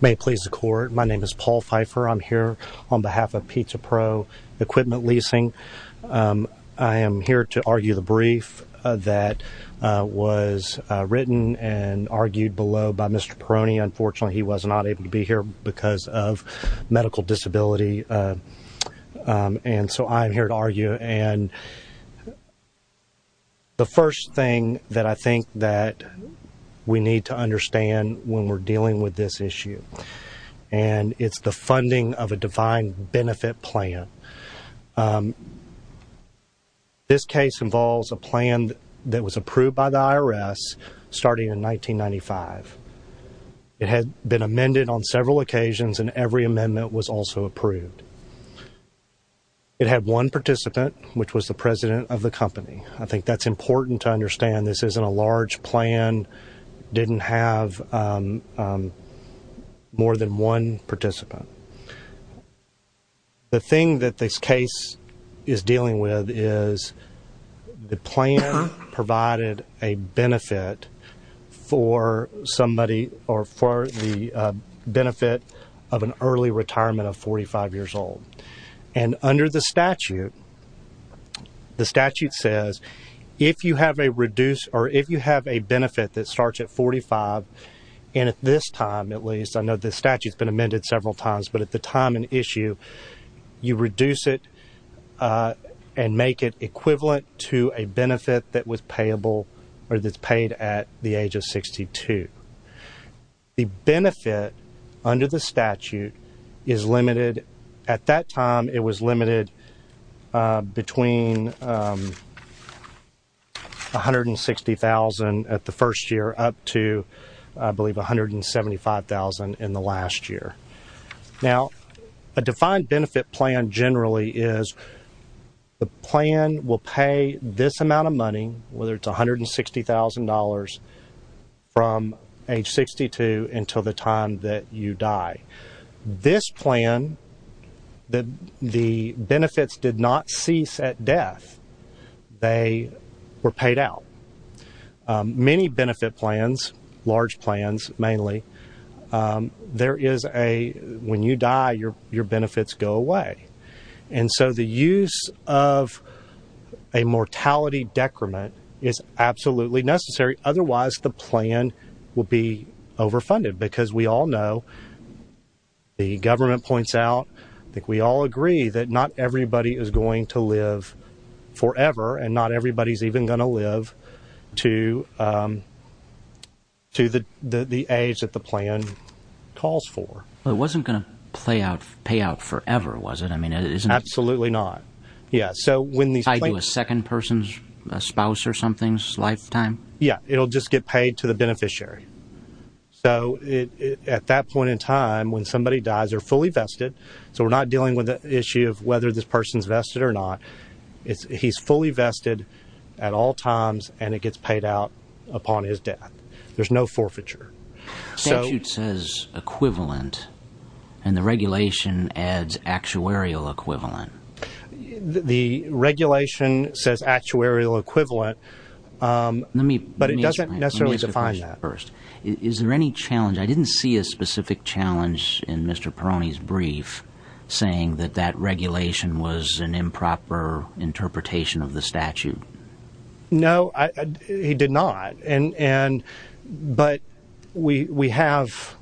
May it please the Court, my name is Paul Pfeiffer, I'm here on behalf of Pizza Pro Equipment Leasing. I am here to argue the brief that was written and argued below by Mr. Perrone, unfortunately he was not able to be here because of medical disability and so I'm here to argue and the first thing that I think that we need to understand when we're dealing with this issue and it's the funding of a defined benefit plan. This case involves a plan that was approved by the IRS starting in 1995. It had been amended on several occasions and every amendment was also approved. It had one participant which was the president of the company. I think that's important to understand this isn't a large plan, didn't have more than one participant. The thing that this case is dealing with is the plan provided a benefit for somebody or for the benefit of an early retirement of 45 years old and under the statute, the statute says if you have a benefit that starts at 45 and at this time at least, I know the statute's been amended several times, but at the time and issue you reduce it and make it equivalent to a benefit that was payable or that's paid at the age of 62. The benefit under the statute is limited, at that time it was limited between 160,000 at the first year up to I believe 175,000 in the last year. Now a defined benefit plan generally is the plan will pay this amount of money, whether it's $160,000 from age 62 until the time that you die. This plan, the benefits did not cease at death, they were paid out. Many benefit plans, large plans mainly, there is a when you die your benefits go away and so the use of a mortality decrement is absolutely necessary, otherwise the plan will be overfunded because we all know, the government points out, I think we all agree that not everybody is going to live forever and not everybody's even going to live to the age that the plan calls for. It wasn't going to pay out forever, was it? Absolutely not. Yeah, so when the second person's spouse or something's lifetime? Yeah, it'll just get paid to the beneficiary. So at that point in time when somebody dies, they're fully vested, so we're not dealing with the issue of whether this person's vested or not, he's fully vested at all times and it gets paid out upon his death. There's no forfeiture. Statute says equivalent and the regulation adds actuarial equivalent. The regulation says actuarial equivalent, but it doesn't necessarily define that. Is there any challenge, I didn't see a specific challenge in Mr. Perroni's brief saying that that regulation was an improper interpretation of the statute. No, he did not, but we have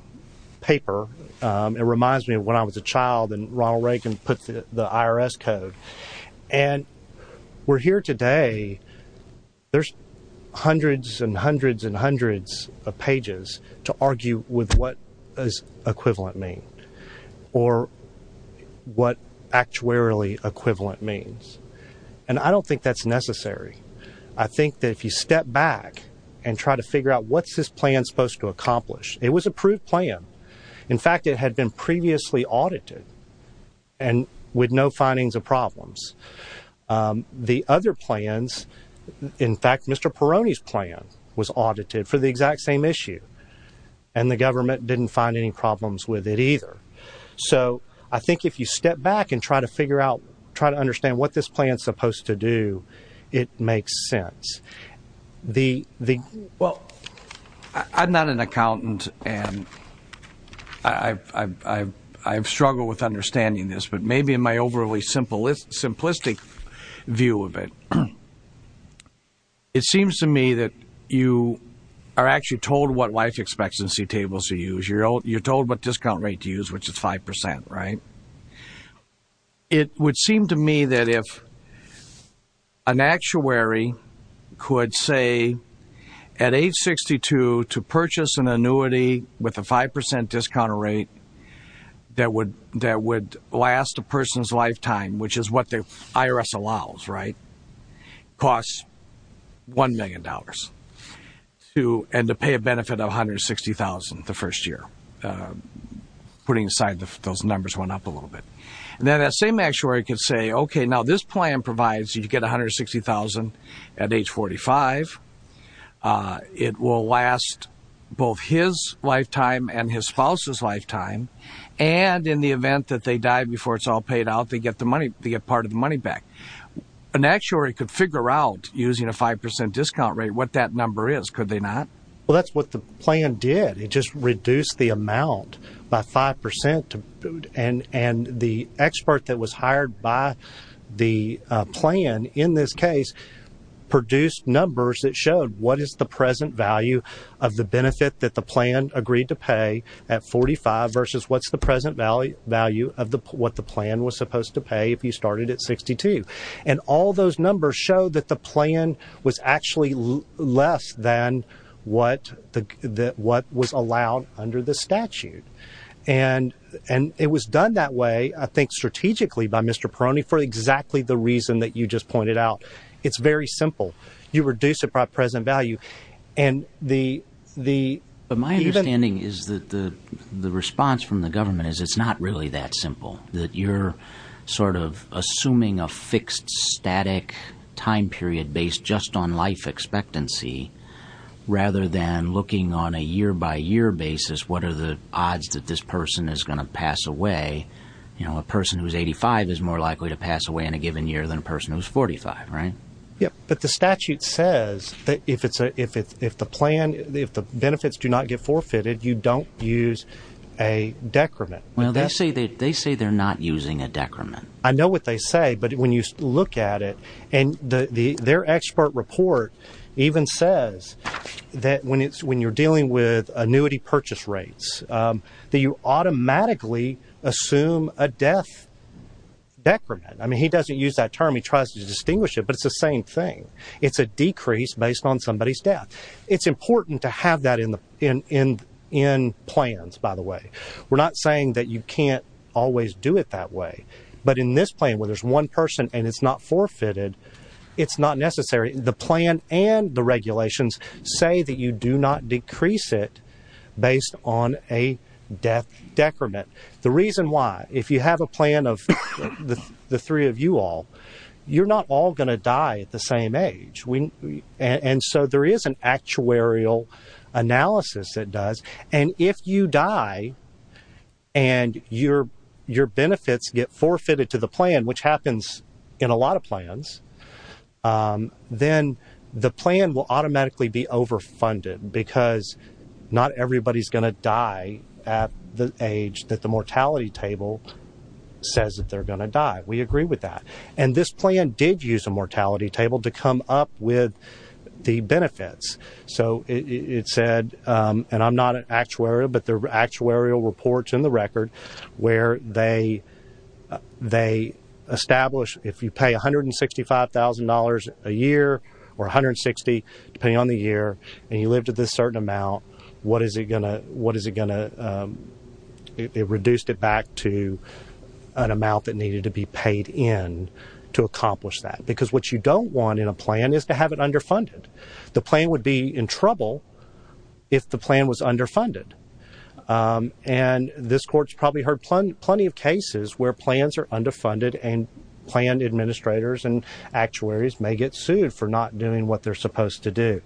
paper, it reminds me of when I was a child and Ronald Reagan put the IRS code and we're here today, there's hundreds and hundreds and hundreds of regulations that argue with what is equivalent mean or what actuarially equivalent means and I don't think that's necessary. I think that if you step back and try to figure out what's this plan supposed to accomplish, it was approved plan. In fact, it had been previously audited and with no findings of problems. The other plans, in fact, Mr. Perroni's plan was audited for the exact same issue and the government didn't find any problems with it either. So I think if you step back and try to figure out, try to understand what this plan is supposed to do, it makes sense. Well, I'm not an accountant and I've struggled with understanding this, but maybe in my overly simplistic view of it, it seems to me that you are actually told what life expectancy tables to use, you're told what discount rate to use, which is 5%, right? It would seem to me that if an actuary could say at age 62 to purchase an annuity with a 5% discount rate that would last a person's lifetime, which is what they did to pay a benefit of $160,000 the first year. Putting aside, those numbers went up a little bit. That same actuary could say, okay, now this plan provides you get $160,000 at age 45. It will last both his lifetime and his spouse's lifetime, and in the event that they die before it's all paid out, they get part of the money back. An actuary could figure out, using a 5% discount rate, what that number is, could they not? Well, that's what the plan did. It just reduced the amount by 5%, and the expert that was hired by the plan, in this case, produced numbers that showed what is the present value of the benefit that the plan agreed to pay at 45 versus what's the present value of what the plan was supposed to pay if you less than what was allowed under the statute. And it was done that way, I think, strategically by Mr. Perroni for exactly the reason that you just pointed out. It's very simple. You reduce the present value, and the... But my understanding is that the response from the government is it's not really that simple. That you're sort of assuming a fixed, static time period based just on life expectancy, rather than looking on a year-by-year basis, what are the odds that this person is going to pass away? You know, a person who's 85 is more likely to pass away in a given year than a person who's 45, right? Yep. But the statute says that if the benefits do not get forfeited, you don't use a decrement. Well, they say they're not using a decrement. I know what they say, but when you look at it, and their expert report even says that when you're dealing with annuity purchase rates, that you automatically assume a death decrement. I mean, he doesn't use that term. He tries to distinguish it, but it's the same thing. It's a decrease based on somebody's death. It's important to have that in plans, by the way. We're not saying that you can't always do it that way, but in this plan where there's one person and it's not forfeited, it's not necessary. The plan and the regulations say that you do not decrease it based on a death decrement. The reason why, if you have a plan of the three of you all, you're not all going to die at the same age, and so there is an actuarial analysis that does. And if you die and your benefits get forfeited to the plan, which happens in a lot of plans, then the plan will automatically be overfunded because not everybody's going to die at the age that the mortality table says that they're going to die. We agree with that, and this plan did use a mortality table to come up with the benefits. So it said, and I'm not an actuarial, but there are actuarial reports in the record where they establish if you pay $165,000 a year or $160,000, depending on the year, and you live to this certain amount, what is it going to? It reduced it back to an amount that needed to be paid in to accomplish that because what you don't want in a plan is to have it underfunded. The plan would be in trouble if the plan was underfunded. And this court's probably heard plenty of cases where plans are underfunded and plan administrators and actuaries may get sued for not doing what they're supposed to do.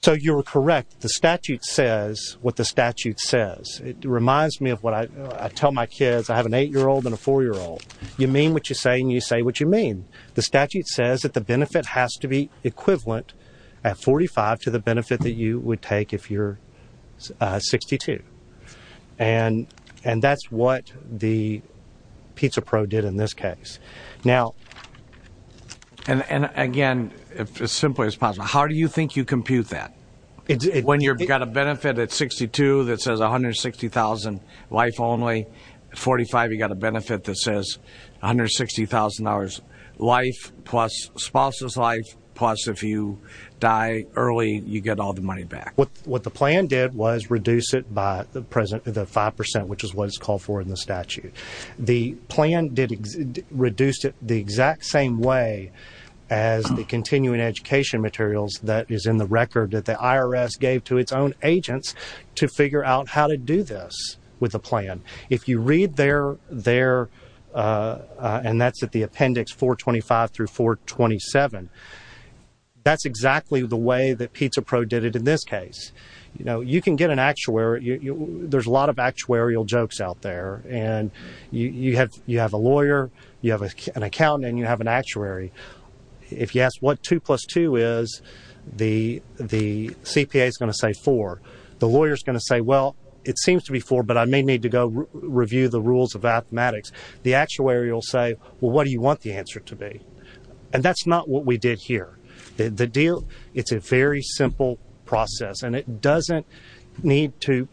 So you're correct. The statute says what the statute says. It reminds me of what I tell my kids. I have an eight-year-old and a four-year-old. You mean what you say, and you say what you mean. The statute says that the benefit has to be equivalent at 45 to the benefit that you would take if you're 62. And that's what the Pizza Pro did in this case. Now... And, again, as simply as possible, how do you think you compute that? When you've got a benefit at 62 that says $160,000 life only, at 45 you've got a benefit that says $160,000 life plus spousal's life, plus if you die early, you get all the money back. What the plan did was reduce it by the 5%, which is what it's called for in the statute. The plan reduced it the exact same way as the continuing education materials that is in the record that the IRS gave to its own agents to figure out how to do this with the plan. If you read there, there, and that's at the appendix 425 through 427, that's exactly the way that Pizza Pro did it in this case. You can get an actuary... There's a lot of actuarial jokes out there, and you have a lawyer, you have an accountant, and you have an actuary. If you ask what 2 plus 2 is, the CPA's going to say 4. The lawyer's going to say, well, it seems to be 4, but I may need to go review the rules of mathematics. The actuary will say, well, what do you want the answer to be? And that's not what we did here. It's a very simple process, and it doesn't need to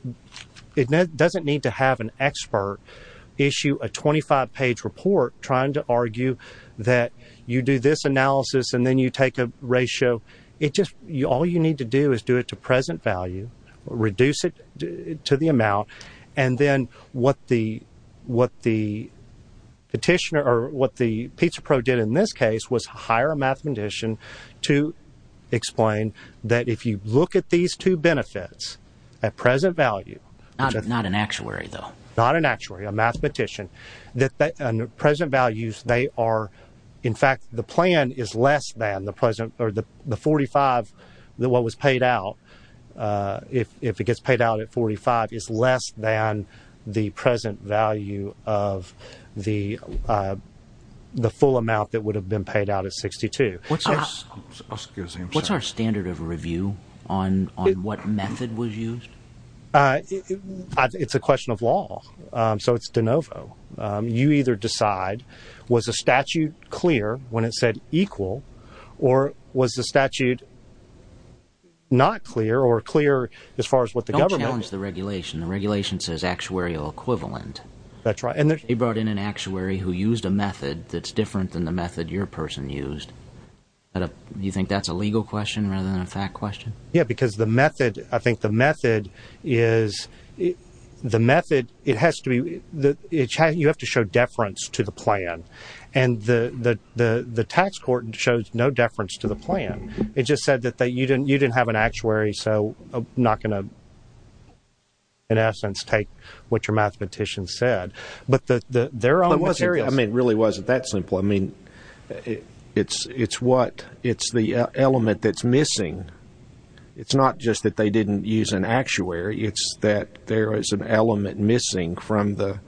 have an expert issue a 25-page report trying to argue that you do this analysis and then you take a ratio. All you need to do is do it to present value, reduce it to the amount, and then what the Pizza Pro did in this case was hire a mathematician to explain that if you look at these two benefits at present value... Not an actuary, though. At present values, they are... In fact, the plan is less than the present... The 45, what was paid out, if it gets paid out at 45, is less than the present value of the full amount that would have been paid out at 62. What's our standard of review on what method was used? It's a question of law. So it's de novo. You either decide, was the statute clear when it said equal, or was the statute not clear or clear as far as what the government... Don't challenge the regulation. The regulation says actuarial equivalent. That's right. They brought in an actuary who used a method that's different than the method your person used. You think that's a legal question rather than a fact question? Yeah, because the method... I think the method is... The method, it has to be... You have to show deference to the plan, and the tax court shows no deference to the plan. It just said that you didn't have an actuary, so I'm not going to, in essence, take what your mathematician said. But their own materials... I mean, it really wasn't that simple. I mean, it's the element that's missing. It's not just that they didn't use an actuary. It's that there is an element missing from the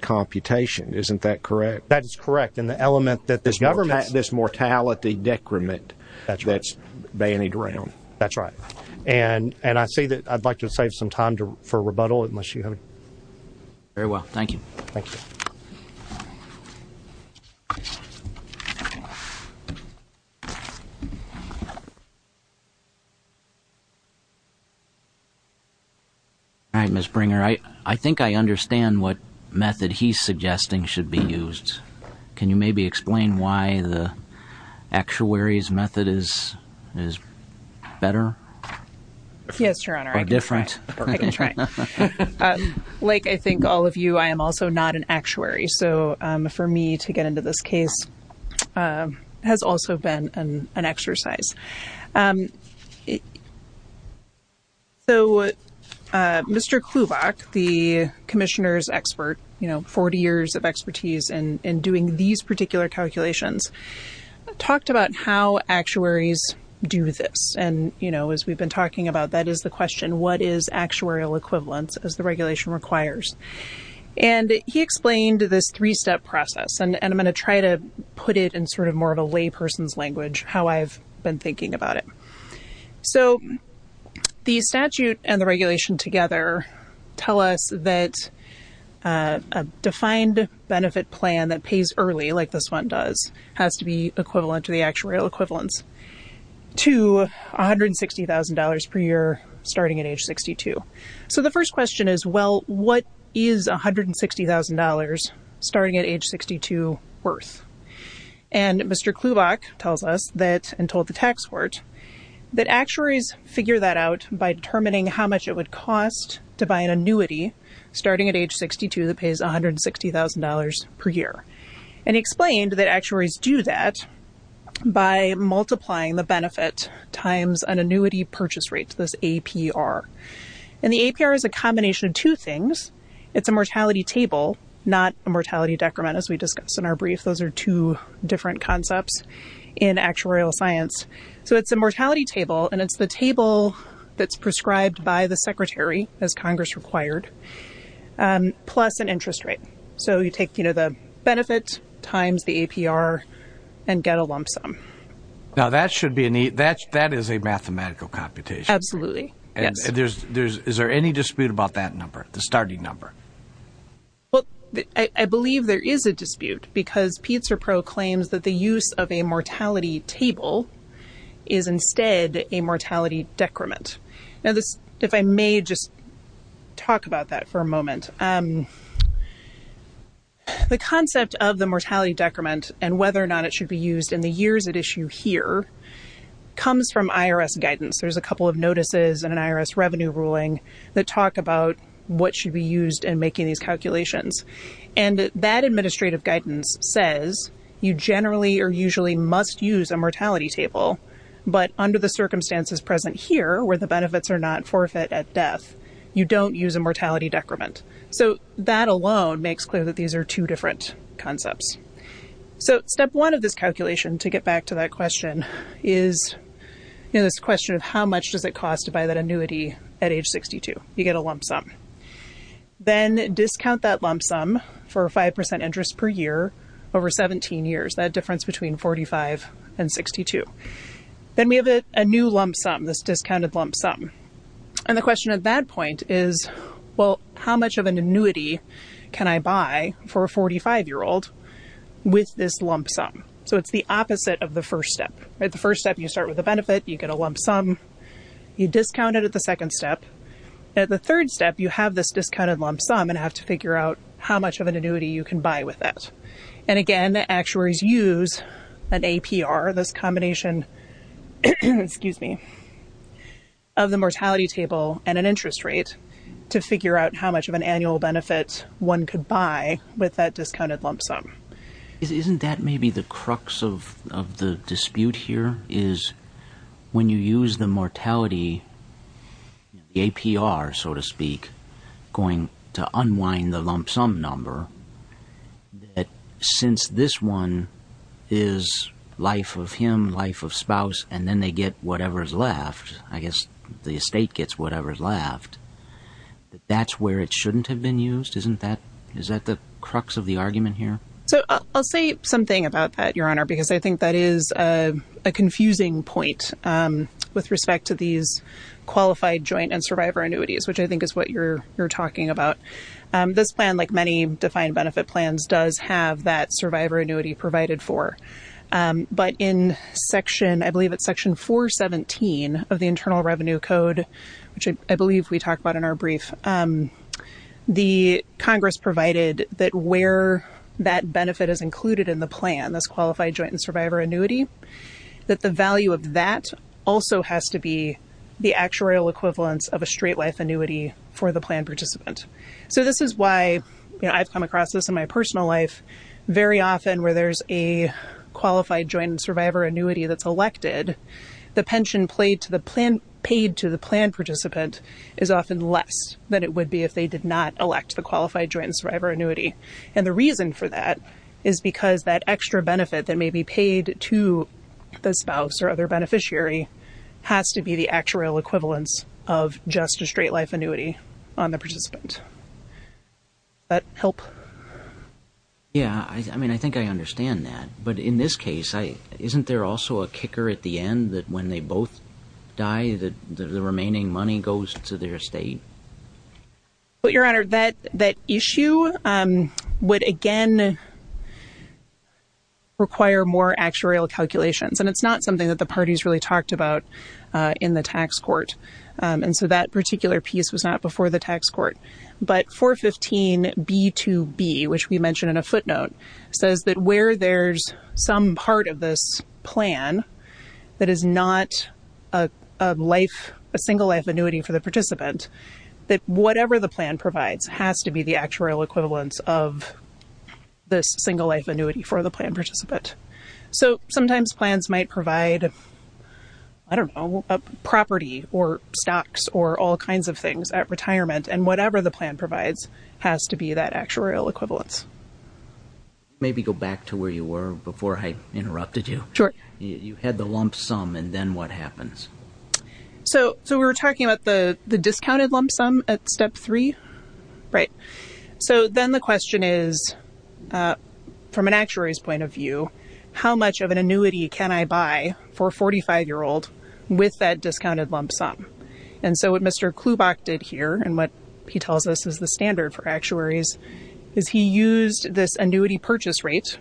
computation. Isn't that correct? That is correct. And the element that this government... This mortality decrement that's bandied around. That's right. And I'd like to save some time for rebuttal, unless you have... Very well. Thank you. Thank you. Thank you. All right, Ms. Bringer. I think I understand what method he's suggesting should be used. Can you maybe explain why the actuary's method is better? Yes, Your Honor. Or different? I can try. Like, I think, all of you, I am also not an actuary. So, for me to get into this case has also been an exercise. So, Mr. Klubach, the commissioner's expert, you know, 40 years of expertise in doing these particular calculations, talked about how actuaries do this. And, you know, as we've been talking about, that is the question. What is actuarial equivalence, as the regulation requires? And he explained this three-step process. And I'm going to try to put it in sort of more of a layperson's language, how I've been thinking about it. So, the statute and the regulation together tell us that a defined benefit plan that pays early, like this one does, has to be equivalent to the actuarial equivalence, to $160,000 per year, starting at age 62. So, the first question is, well, what is $160,000 starting at age 62 worth? And Mr. Klubach tells us that, and told the tax court, that actuaries figure that out by determining how much it would cost to buy an annuity starting at age 62 that pays $160,000 per year. And he explained that actuaries do that by multiplying the benefit times an annuity purchase rate, this APR. And the APR is a combination of two things. It's a mortality table, not a mortality decrement, as we discussed in our brief. Those are two different concepts in actuarial science. So, it's a mortality table, and it's the table that's prescribed by the secretary, as Congress required, plus an interest rate. So, you take the benefit times the APR and get a lump sum. Now, that is a mathematical computation. Absolutely. Yes. Is there any dispute about that number, the starting number? Well, I believe there is a dispute because PizzerPro claims that the use of a mortality table is instead a mortality decrement. Now, if I may just talk about that for a moment. The concept of the mortality decrement and whether or not it should be used in the years at issue here comes from IRS guidance. There's a couple of notices in an IRS revenue ruling that talk about what should be used in making these calculations. And that administrative guidance says you generally or usually must use a mortality table, but under the circumstances present here, where the benefits are not forfeit at death, you don't use a mortality decrement. So, that alone makes clear that these are two different concepts. So, step one of this calculation, to get back to that question, is this question of how much does it cost to buy that annuity at age 62? You get a lump sum. Then discount that lump sum for 5% interest per year over 17 years, that difference between 45 and 62. Then we have a new lump sum, this discounted lump sum. And the question at that point is, well, how much of an annuity can I buy for a 45-year-old with this lump sum? So, it's the opposite of the first step. The first step, you start with a benefit, you get a lump sum, you discount it at the second step. At the third step, you have this discounted lump sum and have to figure out how much of an annuity you can buy with that. And again, actuaries use an APR, this combination of the mortality table and an interest rate to figure out how much of an annual benefit one could buy with that discounted lump sum. Isn't that maybe the crux of the dispute here? Is when you use the mortality, the APR, so to speak, going to unwind the lump sum number, that since this one is life of him, life of spouse, and then they get whatever's left, I guess the estate gets whatever's left, that that's where it shouldn't have been used? Isn't that the crux of the argument here? So, I'll say something about that, Your Honor, because I think that is a confusing point with respect to these qualified joint and survivor annuities, which I think is what you're talking about. This plan, like many defined benefit plans, does have that survivor annuity provided for. But in section, I believe it's section 417 of the Internal Revenue Code, which I believe we talked about in our brief, the Congress provided that where that benefit is included in the plan, this qualified joint and survivor annuity, that the value of that also has to be the actuarial equivalence of a straight life annuity for the plan participant. So, this is why I've come across this in my personal life very often where there's a qualified joint and survivor annuity that's elected. And the pension paid to the plan participant is often less than it would be if they did not elect the qualified joint and survivor annuity. And the reason for that is because that extra benefit that may be paid to the spouse or other beneficiary has to be the actuarial equivalence of just a straight life annuity on the participant. Does that help? Yeah, I mean, I think I understand that. But in this case, isn't there also a kicker at the end that when they both die, the remaining money goes to their estate? Well, Your Honor, that issue would again require more actuarial calculations. And it's not something that the parties really talked about in the tax court. And so that particular piece was not before the tax court. But 415B2B, which we mentioned in a footnote, says that where there's some part of this plan that is not a single life annuity for the participant, that whatever the plan provides has to be the actuarial equivalence of this single life annuity for the plan participant. So sometimes plans might provide, I don't know, property or stocks or all kinds of things at retirement, and whatever the plan provides has to be that actuarial equivalence. Maybe go back to where you were before I interrupted you. Sure. You had the lump sum, and then what happens? So we were talking about the discounted lump sum at Step 3? Right. So then the question is, from an actuary's point of view, how much of an annuity can I buy for a 45-year-old with that discounted lump sum? And so what Mr. Klubach did here, and what he tells us is the standard for actuaries, is he used this annuity purchase rate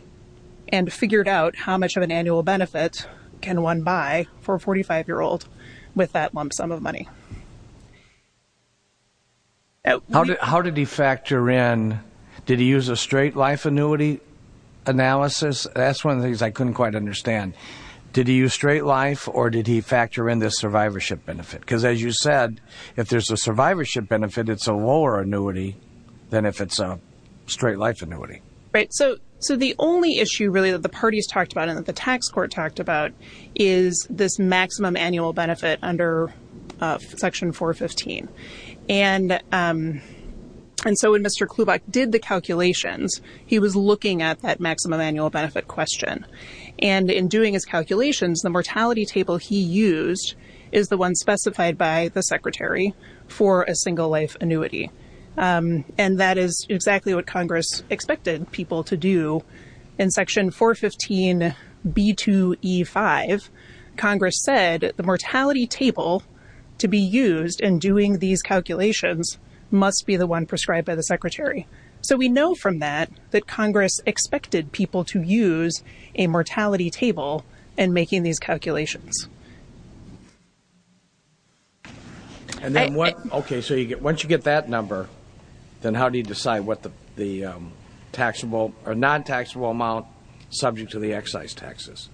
and figured out how much of an annual benefit can one buy for a 45-year-old with that lump sum of money. How did he factor in, did he use a straight life annuity analysis? That's one of the things I couldn't quite understand. Did he use straight life, or did he factor in this survivorship benefit? Because as you said, if there's a survivorship benefit, it's a lower annuity than if it's a straight life annuity. Right. So the only issue really that the parties talked about and that the tax court talked about is this maximum annual benefit under Section 415. And so when Mr. Klubach did the calculations, he was looking at that maximum annual benefit question. And in doing his calculations, the mortality table he used is the one specified by the secretary for a single life annuity. And that is exactly what Congress expected people to do. In Section 415b2e5, Congress said the mortality table to be used in doing these calculations must be the one prescribed by the secretary. So we know from that that Congress expected people to use a mortality table in making these calculations. Okay, so once you get that number, then how do you decide what the taxable or non-taxable amount subject to the excise taxes?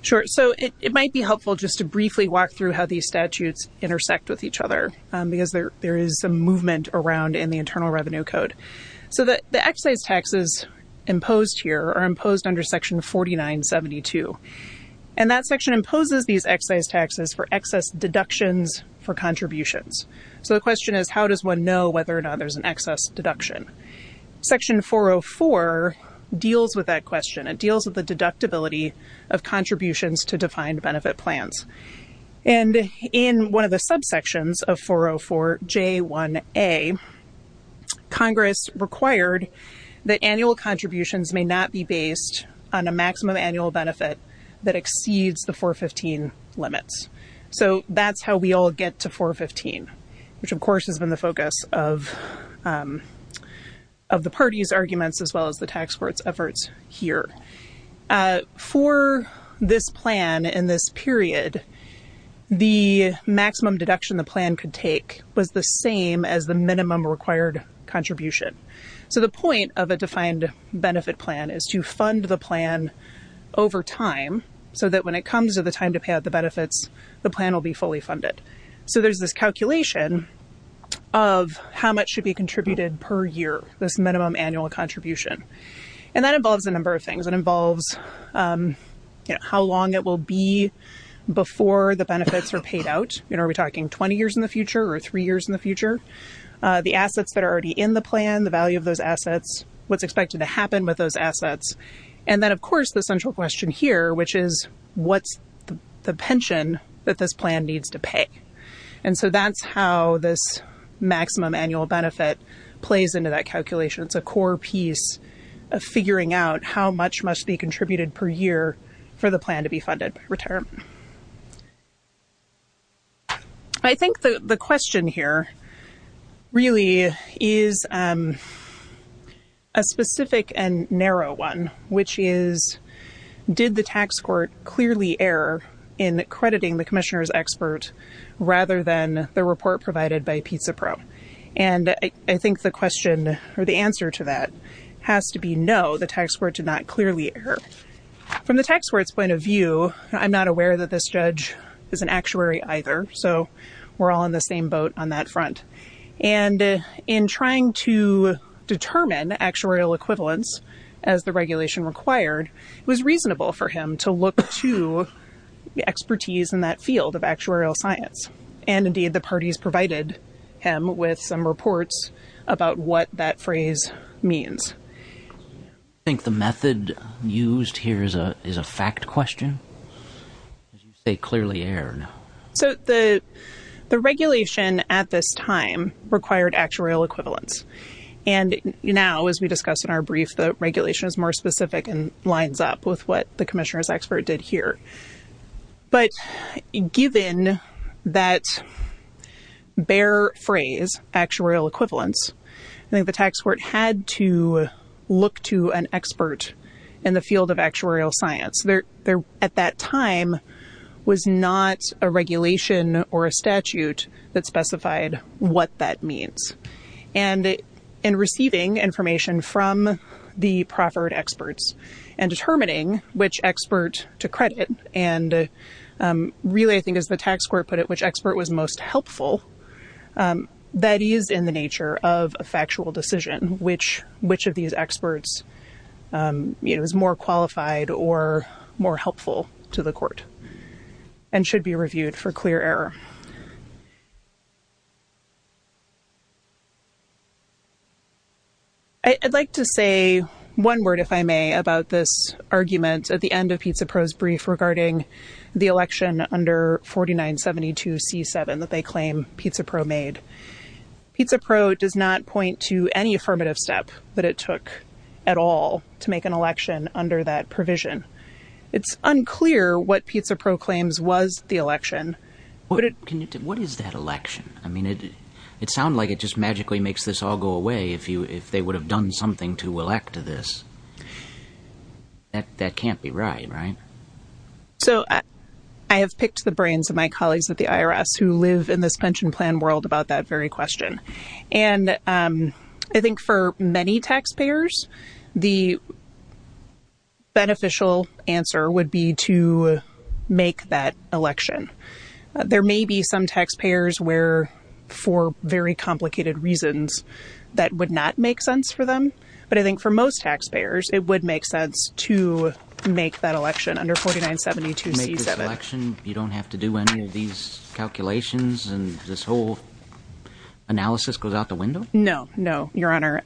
Sure. So it might be helpful just to briefly walk through how these statutes intersect with each other because there is some movement around in the Internal Revenue Code. So the excise taxes imposed here are imposed under Section 4972. And that section imposes these excise taxes for excess deductions for contributions. So the question is, how does one know whether or not there's an excess deduction? Section 404 deals with that question. It deals with the deductibility of contributions to defined benefit plans. And in one of the subsections of 404j1a, Congress required that annual contributions may not be based on a maximum annual benefit that exceeds the 415 limits. So that's how we all get to 415, which of course has been the focus of the party's arguments as well as the tax court's efforts here. For this plan in this period, the maximum deduction the plan could take was the same as the minimum required contribution. So the point of a defined benefit plan is to fund the plan over time so that when it comes to the time to pay out the benefits, the plan will be fully funded. So there's this calculation of how much should be contributed per year, this minimum annual contribution. And that involves a number of things. It involves how long it will be before the benefits are paid out. Are we talking 20 years in the future or three years in the future? The assets that are already in the plan, the value of those assets, what's expected to happen with those assets. And then of course the central question here, which is what's the pension that this plan needs to pay? And so that's how this maximum annual benefit plays into that calculation. It's a core piece of figuring out how much must be contributed per year for the plan to be funded by retirement. I think the question here really is a specific and narrow one, which is did the tax court clearly err in crediting the commissioner's expert rather than the report provided by Pizza Pro? And I think the question or the answer to that has to be no, the tax court did not clearly err. From the tax court's point of view, I'm not aware that this judge is an actuary either, so we're all in the same boat on that front. And in trying to determine actuarial equivalence as the regulation required, it was reasonable for him to look to the expertise in that field of actuarial science. And indeed the parties provided him with some reports about what that phrase means. I think the method used here is a fact question. You say clearly erred. So the regulation at this time required actuarial equivalence. And now, as we discussed in our brief, the regulation is more specific and lines up with what the commissioner's expert did here. But given that bare phrase, actuarial equivalence, I think the tax court had to look to an expert in the field of actuarial science. At that time was not a regulation or a statute that specified what that means. And in receiving information from the proffered experts and determining which expert to credit, and really I think as the tax court put it, which expert was most helpful, that is in the nature of a factual decision, which of these experts is more qualified or more helpful to the court and should be reviewed for clear error. I'd like to say one word, if I may, about this argument at the end of Pizza Pro's brief regarding the election under 4972C7 that they claim Pizza Pro made. Pizza Pro does not point to any affirmative step that it took at all to make an election under that provision. It's unclear what Pizza Pro claims was the election. What is that election? I mean, it sounds like it just magically makes this all go away if they would have done something to elect to this. That can't be right, right? So I have picked the brains of my colleagues at the IRS who live in this pension plan world about that very question. And I think for many taxpayers, the beneficial answer would be to make that election. There may be some taxpayers where, for very complicated reasons, that would not make sense for them. But I think for most taxpayers, it would make sense to make that election under 4972C7. Make this election, you don't have to do any of these calculations and this whole analysis goes out the window? No, no, Your Honor.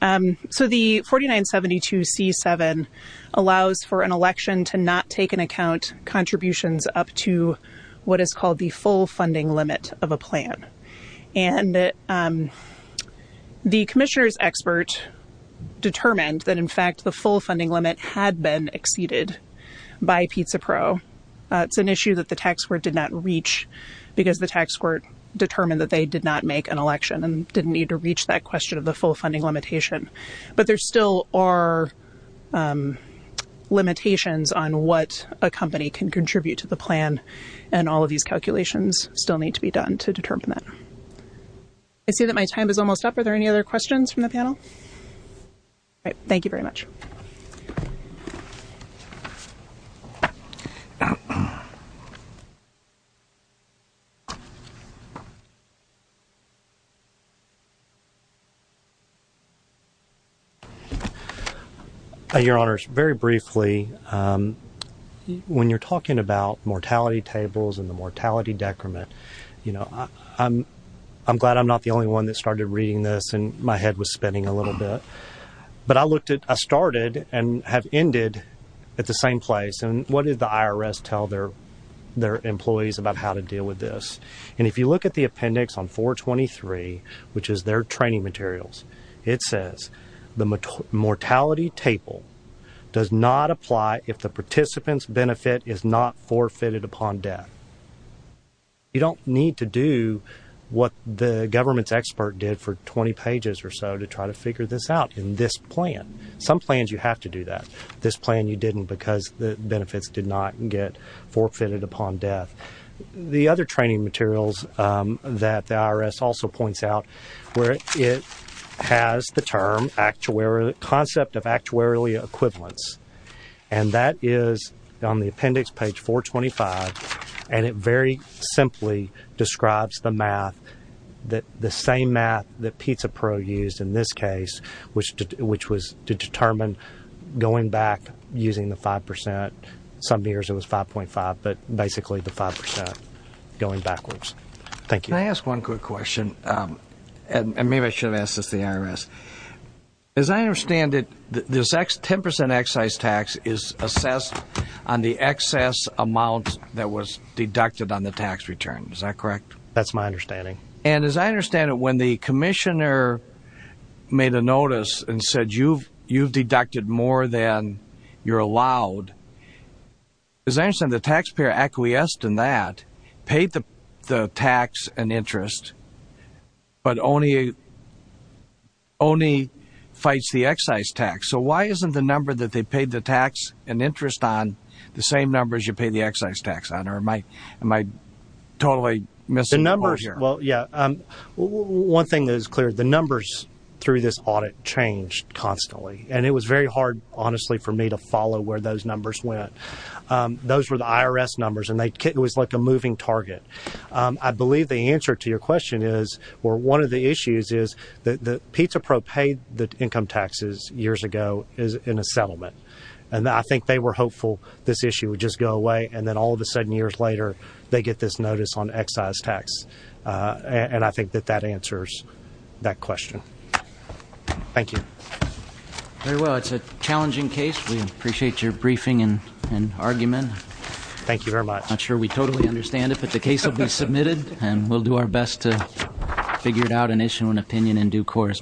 So the 4972C7 allows for an election to not take into account contributions up to what is called the full funding limit of a plan. And the commissioner's expert determined that, in fact, the full funding limit had been exceeded by Pizza Pro. It's an issue that the tax court did not reach because the tax court determined that they did not make an election and didn't need to reach that question of the full funding limitation. But there still are limitations on what a company can contribute to the plan and all of these calculations still need to be done to determine that. I see that my time is almost up. Are there any other questions from the panel? Thank you very much. Your Honor, very briefly, when you're talking about mortality tables and the mortality decrement, I'm glad I'm not the only one that started reading this and my head was spinning a little bit. But I started and have ended at the same place. And what did the IRS tell their employees about how to deal with this? And if you look at the appendix on 423, which is their training materials, it says the mortality table does not apply if the participant's benefit is not forfeited upon death. You don't need to do what the government's expert did for 20 pages or so to try to figure this out in this plan. Some plans you have to do that. This plan you didn't because the benefits did not get forfeited upon death. The other training materials that the IRS also points out where it has the term, concept of actuarially equivalence, and that is on the appendix, page 425, and it very simply describes the math, the same math that Pizza Pro used in this case, which was to determine going back using the 5 percent. Some years it was 5.5, but basically the 5 percent going backwards. Thank you. Can I ask one quick question? And maybe I should have asked this to the IRS. As I understand it, this 10 percent excise tax is assessed on the excess amount that was deducted on the tax return. Is that correct? That's my understanding. And as I understand it, when the commissioner made a notice and said, you've deducted more than you're allowed, as I understand it, the taxpayer acquiesced in that, paid the tax and interest, but only fights the excise tax. So why isn't the number that they paid the tax and interest on the same number as you paid the excise tax on? Or am I totally missing the point here? Well, yeah. One thing that is clear, the numbers through this audit changed constantly, and it was very hard, honestly, for me to follow where those numbers went. Those were the IRS numbers, and it was like a moving target. I believe the answer to your question is, or one of the issues is, that Pizza Pro paid the income taxes years ago in a settlement, and I think they were hopeful this issue would just go away, and then all of a sudden years later they get this notice on excise tax, and I think that that answers that question. Thank you. Very well. It's a challenging case. We appreciate your briefing and argument. Thank you very much. I'm not sure we totally understand it, but the case will be submitted, and we'll do our best to figure it out and issue an opinion in due course.